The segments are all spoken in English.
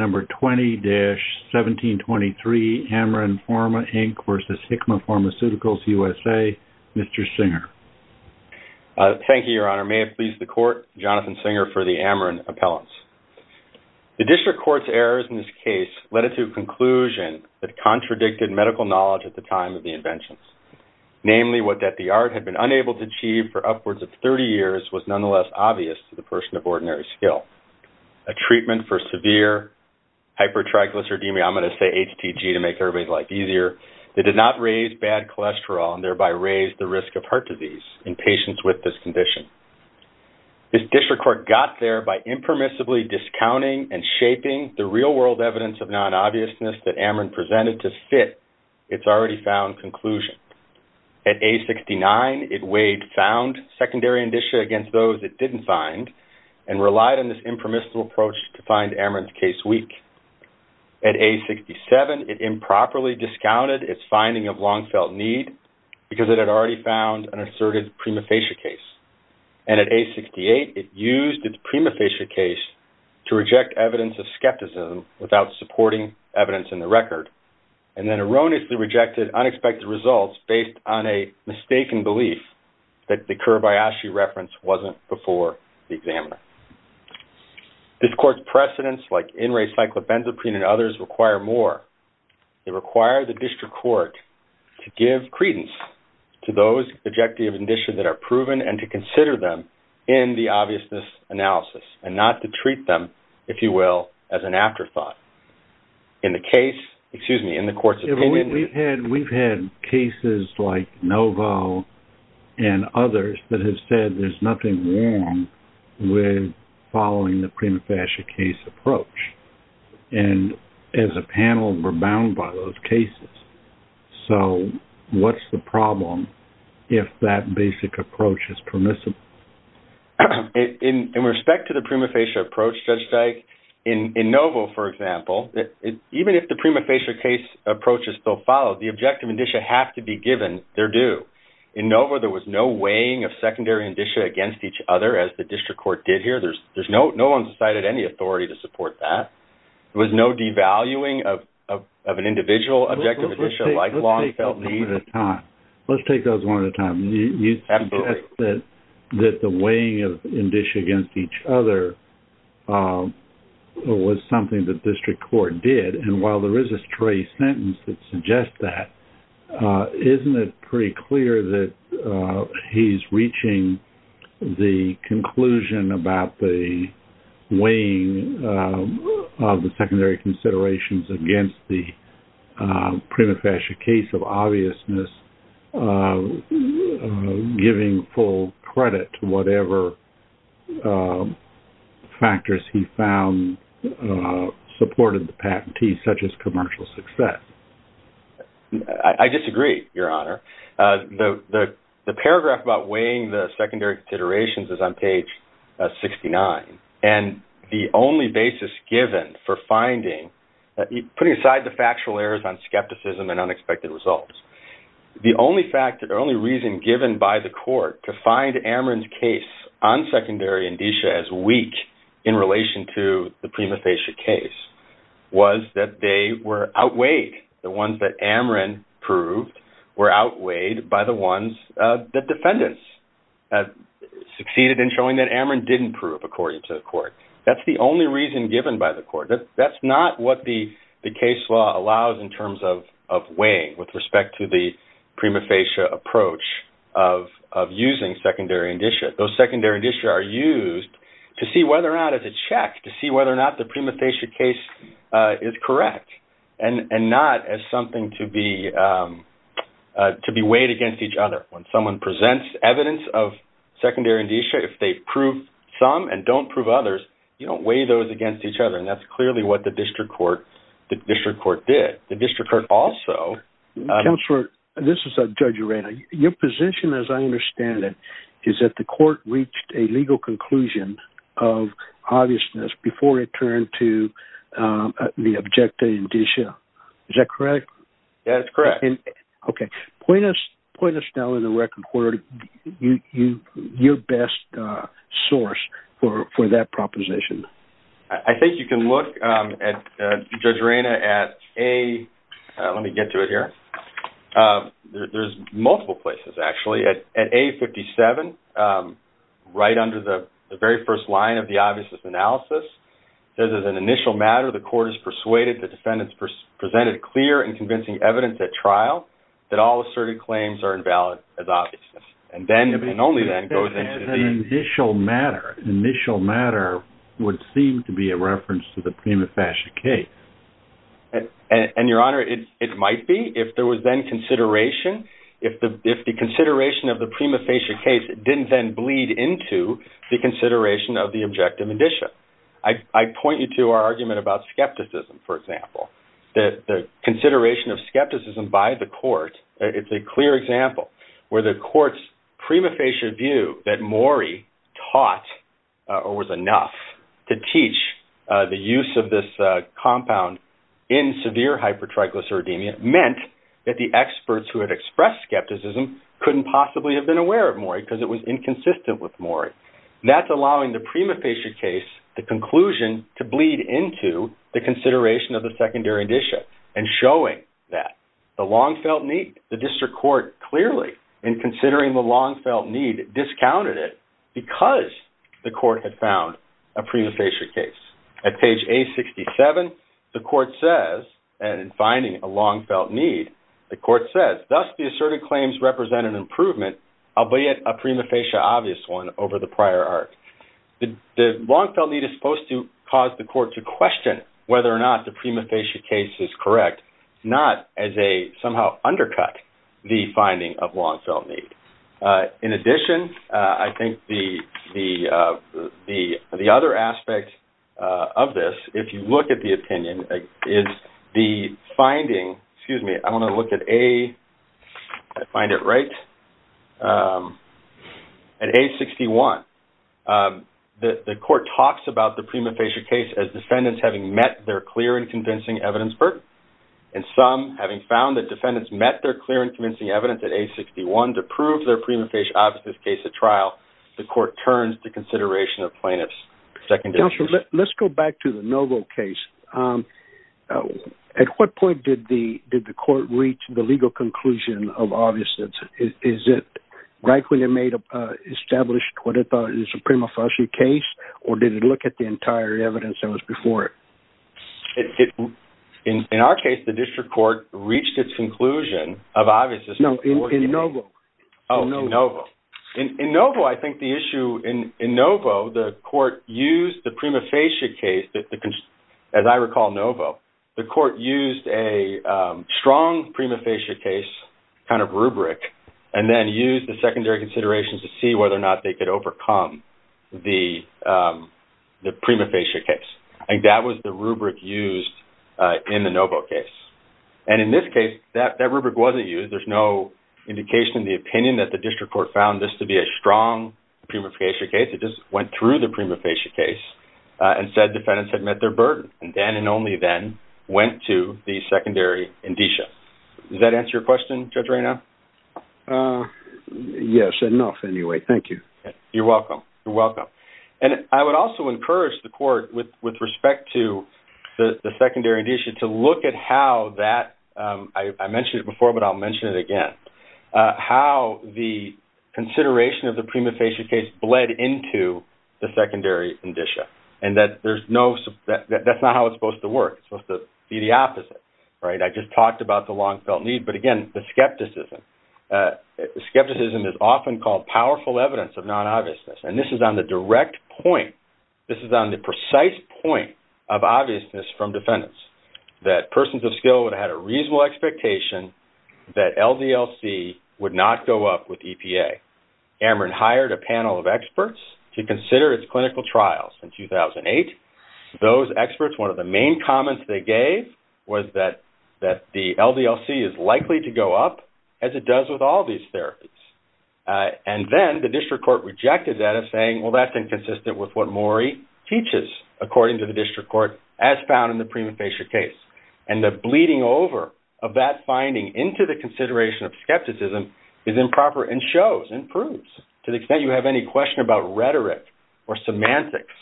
Thank you, Your Honor. May it please the Court, Jonathan Singer for the Amarin Appellants. The District Court's errors in this case led it to a conclusion that contradicted medical knowledge at the time of the inventions. Namely, what that the art had been unable to achieve for upwards of 30 years was nonetheless obvious to the person of ordinary skill—a treatment for severe hypertriglyceridemia—I'm going to say HTG to make everybody's life easier—that did not raise bad cholesterol and thereby raise the risk of heart disease in patients with this condition. This District Court got there by impermissibly discounting and shaping the real-world evidence of non-obviousness that Amarin presented to fit its already-found conclusion. At age 69, it weighed found secondary indicia against those it didn't find and relied on this impermissible approach to find Amarin's case weak. At age 67, it improperly discounted its finding of long-felt need because it had already found an asserted prima facie case. And at age 68, it used its prima facie case to reject evidence of skepticism without supporting evidence in the record and then erroneously rejected unexpected results based on a mistaken belief that the Kiribayashi reference wasn't before the examiner. This court's precedents, like in re cyclobenzaprine and others, require more. They require the District Court to give credence to those objective indicia that are proven and to consider them in the obviousness analysis and not to treat them, if you will, as an afterthought. In the case, excuse me, in the court's opinion. We've had cases like Novo and others that have said there's nothing wrong with following the prima facie case approach. And as a panel, we're bound by those cases. So what's the problem if that basic approach is permissible? In respect to the prima facie approach, Judge Dyke, in Novo, for example, even if the prima facie case approach is still followed, the objective indicia have to be given. They're due. In Novo, there was no weighing of secondary indicia against each other as the District Court did here. There's no one's decided any authority to support that. There was no devaluing of an individual objective indicia like long-felt need. Let's take those one at a time. You suggest that the weighing of indicia against each other was something that District Court did. And while there is a stray sentence that suggests that, isn't it pretty clear that he's reaching the conclusion about the weighing of the secondary considerations against the prima facie case of obviousness, giving full credit to whatever factors he found supported the patentee, such as commercial success? I disagree, Your Honor. The paragraph about weighing the secondary considerations is on putting aside the factual errors on skepticism and unexpected results. The only reason given by the court to find Amrin's case on secondary indicia as weak in relation to the prima facie case was that they were outweighed. The ones that Amrin proved were outweighed by the ones that defendants succeeded in showing that Amrin didn't prove according to the court. That's the only reason given by the court. That's not what the case law allows in terms of weighing with respect to the prima facie approach of using secondary indicia. Those secondary indicia are used to see whether or not it's a check, to see whether or not the prima facie case is correct and not as something to be weighed against each other. When someone presents evidence of secondary indicia, if they prove some and don't prove others, you don't weigh those against each other. That's clearly what the district court did. The district court also... Counselor, this is Judge Urena. Your position, as I understand it, is that the court reached a legal conclusion of obviousness before it turned to the objective indicia. Is that correct? That is correct. Okay. Point us down in the record, court, your best source for that proposition. I think you can look, Judge Urena, at A... Let me get to it here. There's multiple places, actually. At A57, right under the very first line of the obviousness analysis, it says as an initial matter, the court is persuaded the defendants presented clear and convincing evidence at trial, that all asserted claims are invalid as obviousness. And then, and only then, goes into the... As an initial matter. Initial matter would seem to be a reference to the prima facie case. And your honor, it might be, if there was then consideration. If the consideration of the prima facie case didn't then bleed into the consideration of the objective indicia. I point you to our argument about skepticism, for example. The consideration of skepticism by the court, it's a clear example, where the court's prima facie view that Morey taught or was enough to teach the use of this compound in severe hypertriglyceridemia meant that the experts who had expressed skepticism couldn't possibly have been aware of Morey because it was inconsistent with Morey. That's allowing the prima facie case, the conclusion to bleed into the consideration of the secondary indicia and showing that the long felt need, the district court clearly in considering the long felt need, discounted it because the court had found a prima facie case. At page A67, the court says, and in finding a long felt need, the court says, thus, the asserted claims represent an improvement, albeit a prima facie obvious one over the prior art. The long felt need is supposed to cause the court to question whether or not the prima facie case is correct, not as a somehow undercut the finding of long felt need. In addition, I think the other aspect of this, if you look at the opinion, is the finding, excuse me, I want to look at A, if I find it right, at A61, the court talks about the prima facie case as defendants having met their clear and convincing evidence, Bert, and some having found that defendants met their clear and convincing evidence at A61 to prove their prima facie obvious case at trial, the court turns to at what point did the court reach the legal conclusion of obviousness? Is it rightfully established what is a prima facie case, or did it look at the entire evidence that was before it? In our case, the district court reached its conclusion of obviousness. No, in Novo. Oh, in Novo. In Novo, I think the issue, in Novo, the court used the prima facie case, as I recall Novo, the court used a strong prima facie case kind of rubric and then used the secondary considerations to see whether or not they could overcome the prima facie case. I think that was the rubric used in the Novo case. And in this case, that rubric wasn't used. There's no indication in the opinion that the district court found this to be a strong prima facie case. It went through the prima facie case and said defendants had met their burden and then and only then went to the secondary indicia. Does that answer your question, Judge Reynaud? Yes, enough anyway. Thank you. You're welcome. You're welcome. And I would also encourage the court with respect to the secondary indicia to look at how that, I mentioned it before, but I'll mention it again, how the consideration of the prima facie case bled into the secondary indicia and that there's no, that's not how it's supposed to work. It's supposed to be the opposite, right? I just talked about the long felt need, but again, the skepticism, skepticism is often called powerful evidence of non-obviousness. And this is on the direct point. This is on the precise point of obviousness from defendants that persons of skill would have had a reasonable expectation that LDLC would not go up with EPA. Ameren hired a panel of experts to consider its clinical trials in 2008. Those experts, one of the main comments they gave was that, that the LDLC is likely to go up as it does with all these therapies. And then the district court rejected that as saying, well, that's inconsistent with what Maury teaches, according to the district court as bleeding over of that finding into the consideration of skepticism is improper and shows, improves to the extent you have any question about rhetoric or semantics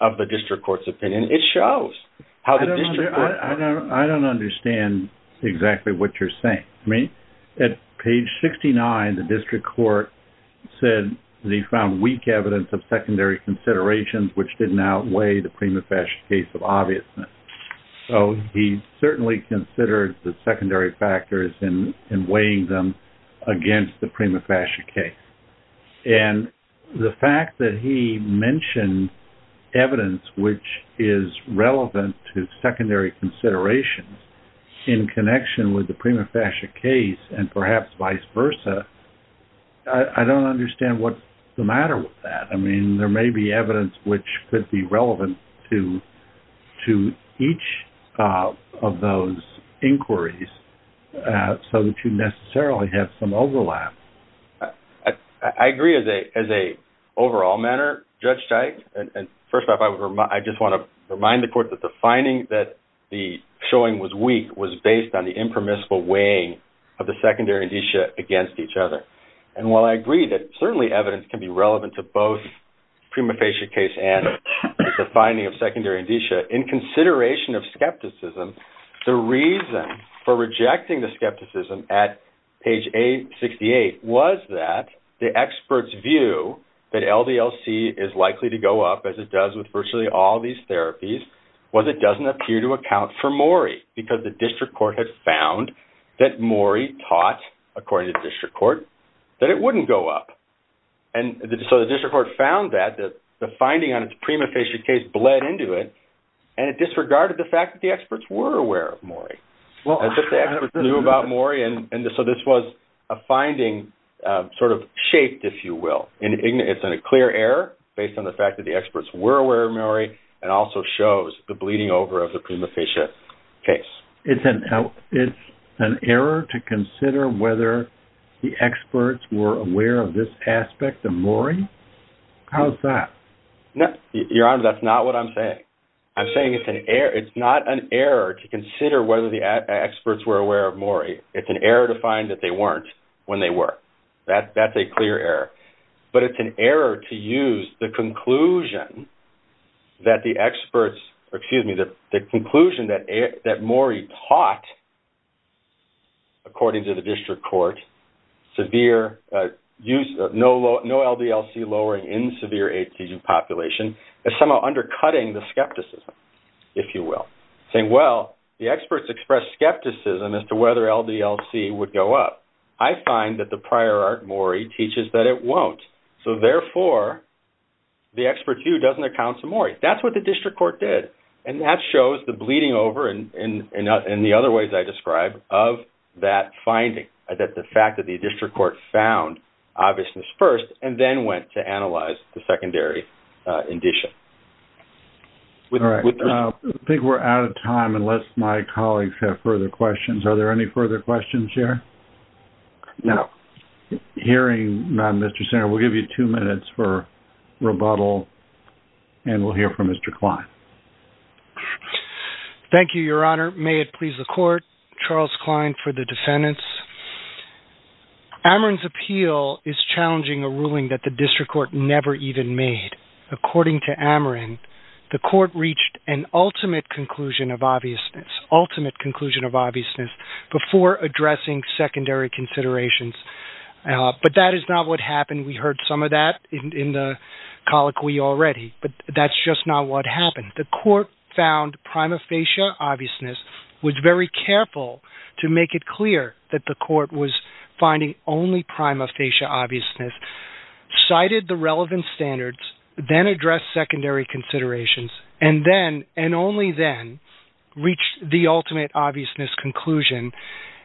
of the district court's opinion. It shows how the district court- I don't understand exactly what you're saying. I mean, at page 69, the district court said that he found weak evidence of secondary considerations, which didn't outweigh the prima facie case of obviousness. So he certainly considered the secondary factors in weighing them against the prima facie case. And the fact that he mentioned evidence, which is relevant to secondary considerations in connection with the prima facie case and perhaps vice versa, I don't understand what's the matter with that. I mean, there may be evidence which could be relevant to, to each of those inquiries so that you necessarily have some overlap. I agree as a, as a overall manner, Judge Teich. And first off, I would remind, I just want to remind the court that the finding that the showing was weak was based on the impermissible weighing of the secondary indicia against each other. And while I prima facie case and the finding of secondary indicia in consideration of skepticism, the reason for rejecting the skepticism at page 68 was that the experts view that LDLC is likely to go up as it does with virtually all these therapies was it doesn't appear to account for Morrie because the district court had found that Morrie taught, according to the district court, that it wouldn't go up. And so the district court found that, that the finding on its prima facie case bled into it. And it disregarded the fact that the experts were aware of Morrie. Well, just the experts knew about Morrie. And so this was a finding sort of shaped, if you will, it's in a clear error based on the fact that the experts were aware of Morrie and also shows the bleeding over of the prima facie case. It's an error to consider whether the experts were aware of this aspect of Morrie. How's that? No, Your Honor, that's not what I'm saying. I'm saying it's an error. It's not an error to consider whether the experts were aware of Morrie. It's an error to find that they weren't when they were. That's a clear error. But it's an error to use the conclusion that the experts, excuse me, the conclusion that Morrie taught, according to the district court, no LDLC lowering in severe ATG population is somehow undercutting the skepticism, if you will. Saying, well, the experts expressed skepticism as to whether LDLC would go up. I find that the prior art Morrie teaches that it won't. So therefore, the expert view doesn't account to Morrie. That's what the district court did. And that shows the bleeding over in the other ways I described of that finding, that the fact that the district court found obviousness first and then went to analyze the secondary indicia. All right. I think we're out of time unless my colleagues have further questions. Are there any further questions here? No. Hearing none, Mr. Senator, we'll give you two minutes for rebuttal, and we'll hear from Mr. Klein. Thank you, Your Honor. May it please the court, Charles Klein for the defendants. Ameren's appeal is challenging a ruling that the district court never even made. According to Ameren, the court reached an ultimate conclusion of obviousness, ultimate conclusion of obviousness before addressing secondary considerations. But that is not what happened. We heard some of that in the colloquy already, but that's just not what happened. The court found prima facie obviousness was very careful to make it clear that the court was finding only prima facie obviousness, cited the relevant standards, then addressed secondary considerations, and then and only then reached the ultimate obviousness conclusion.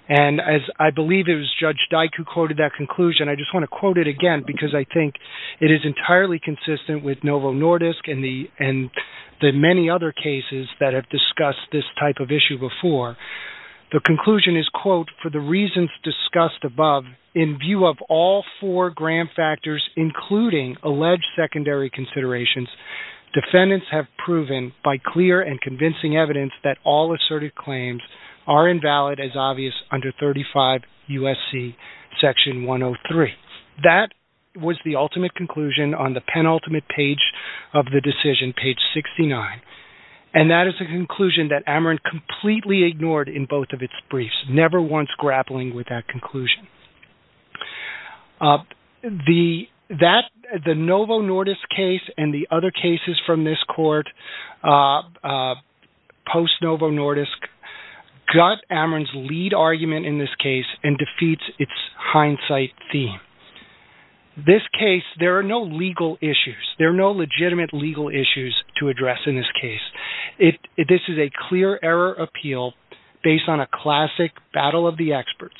And as I believe it was Judge Dyk who quoted that conclusion, I just want to quote it again because I think it is entirely consistent with Novo Nordisk and the many other cases that have discussed this type of issue before. The conclusion is, quote, for the reasons discussed above, in view of all four gram factors, including alleged secondary considerations, defendants have proven by clear and convincing evidence that all asserted claims are invalid as obvious under 35 U.S.C. section 103. That was the ultimate conclusion on the penultimate page of the decision, page 69. And that is a conclusion that Ameren completely ignored in both of its briefs, never once grappling with that conclusion. The Novo Nordisk case and the other cases from this court, post-Novo Nordisk, got Ameren's lead argument in this case and defeats its hindsight theme. This case, there are no legal issues. There are no legitimate legal issues to address in this case. This is a clear error appeal based on a classic battle of the experts,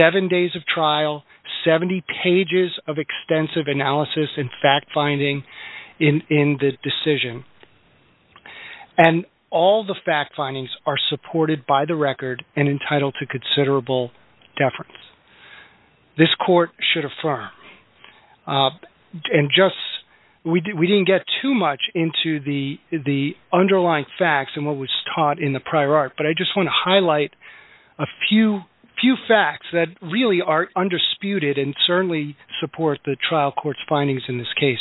seven days of trial, 70 pages of extensive analysis and fact-finding in the decision. And all the fact-findings are supported by the record and entitled to considerable deference. This court should affirm. We didn't get too much into the underlying facts and what was taught in the prior art, but I just want to highlight a few facts that really are undisputed and certainly support the trial court's findings in this case.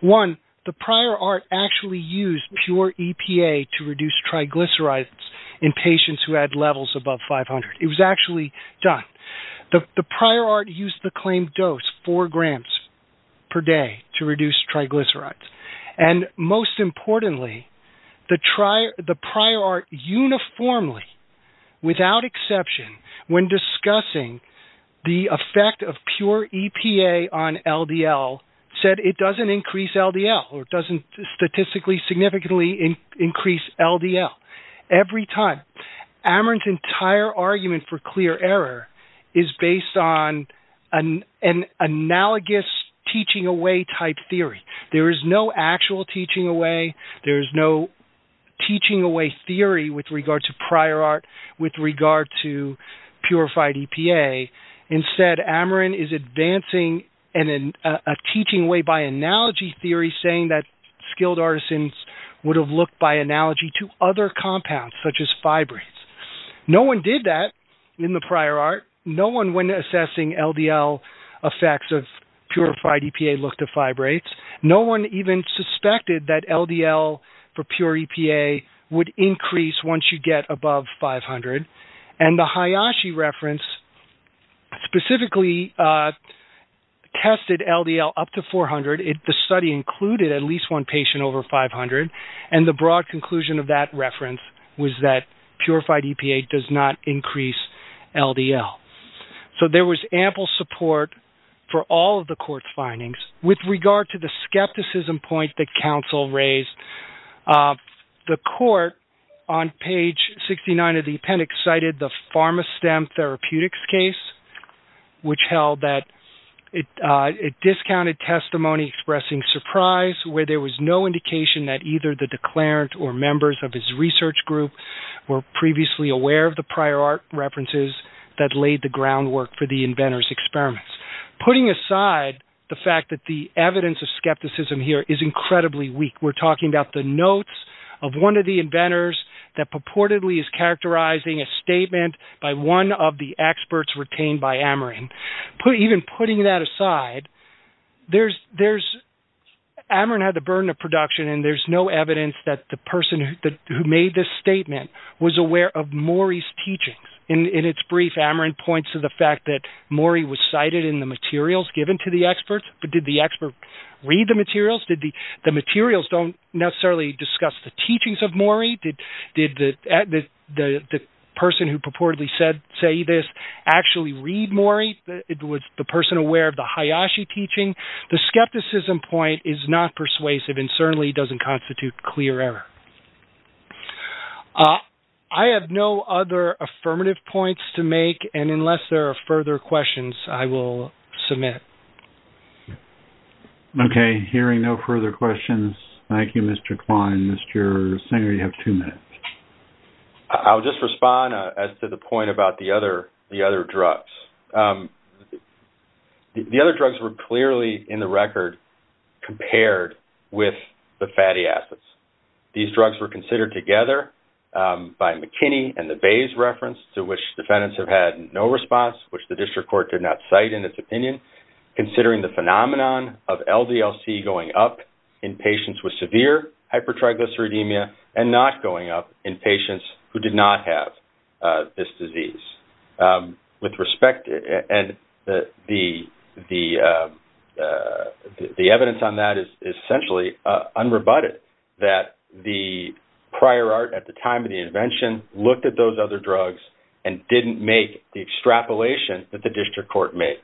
One, the prior art actually used pure EPA to reduce triglycerides. The prior art used the claimed dose, four grams per day to reduce triglycerides. And most importantly, the prior art uniformly, without exception, when discussing the effect of pure EPA on LDL, said it doesn't increase LDL or doesn't statistically significantly increase LDL. Every time. Ameren's entire argument for clear error is based on an analogous teaching away type theory. There is no actual teaching away. There is no teaching away theory with regard to prior art with regard to purified EPA. Instead, Ameren is advancing a teaching way by analogy theory saying that skilled artisans would have looked by analogy to other compounds such as fibrates. No one did that in the prior art. No one when assessing LDL effects of purified EPA looked at fibrates. No one even suspected that LDL for pure EPA would increase once you get above 500. And the Hayashi reference specifically tested LDL up to 400. The study included at least one patient over 500. And the broad conclusion of that reference was that purified EPA does not increase LDL. So there was ample support for all of the court's findings. With regard to the skepticism point that counsel raised, the court on page 69 of the appendix cited the Pharma STEM therapeutics case, which held that it discounted testimony expressing surprise where there was no indication that either the declarant or members of his research group were previously aware of the prior art references that laid the groundwork for the inventor's experiments. Putting aside the fact that the evidence of skepticism here is incredibly weak, we're talking about the notes of one of the inventors that purportedly is characterizing a statement by one of the experts retained by Ameren. Even putting that aside, Ameren had the burden of production and there's no evidence that the person who made this statement was aware of Mori's teachings. In its brief, Ameren points to the fact that Mori was cited in the materials given to the experts, but did the expert read the materials? Did the materials don't necessarily discuss the teachings of Mori? Did the person who purportedly said this actually read Mori? Was the person aware of the Hayashi teaching? The skepticism point is not persuasive and certainly doesn't constitute clear error. I have no other affirmative points to make, and unless there are further questions, I will submit. Okay, hearing no further questions, thank you, Mr. Klein. Mr. Singer, you have two minutes. I'll just respond as to the point about the other drugs. The other drugs were clearly in the record compared with the fatty acids. These drugs were considered together by McKinney and the Bayes reference, to which defendants have had no response, which the district court did not cite in its opinion, considering the phenomenon of LDL-C going up in patients with severe hypertriglyceridemia and not going up in patients who did have this disease. The evidence on that is essentially unrebutted, that the prior art at the time of the invention looked at those other drugs and didn't make the extrapolation that the district court made.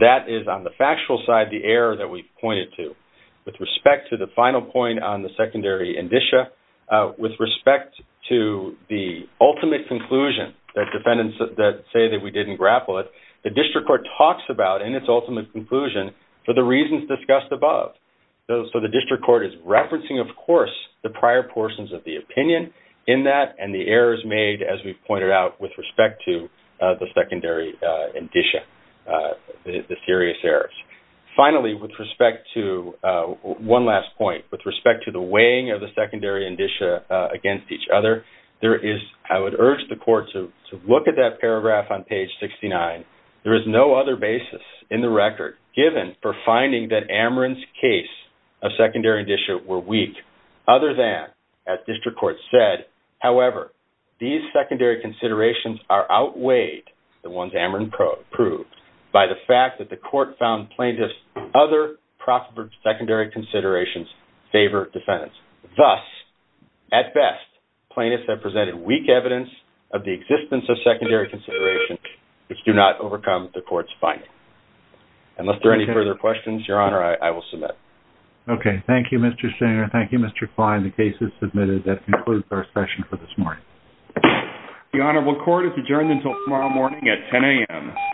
That is, on the factual side, the error that we've pointed to. With respect to final point on the secondary indicia, with respect to the ultimate conclusion that defendants that say that we didn't grapple it, the district court talks about in its ultimate conclusion for the reasons discussed above. The district court is referencing, of course, the prior portions of the opinion in that and the errors made, as we've pointed out, with respect to the secondary indicia, the serious errors. Finally, with respect to one last point, with respect to the weighing of the secondary indicia against each other, I would urge the court to look at that paragraph on page 69. There is no other basis in the record given for finding that Amarin's case of secondary indicia were weak, other than, as district court said, however, these secondary considerations are outweighed, the ones Amarin proved, by the fact that the court found plaintiffs' other prospered secondary considerations favor defendants. Thus, at best, plaintiffs have presented weak evidence of the existence of secondary considerations, which do not overcome the court's finding. Unless there are any further questions, Your Honor, I will submit. Okay. Thank you, Mr. Singer. Thank you, Mr. Klein. The case is submitted. That concludes our session for this morning. The Honorable Court is adjourned until tomorrow morning at 10 a.m.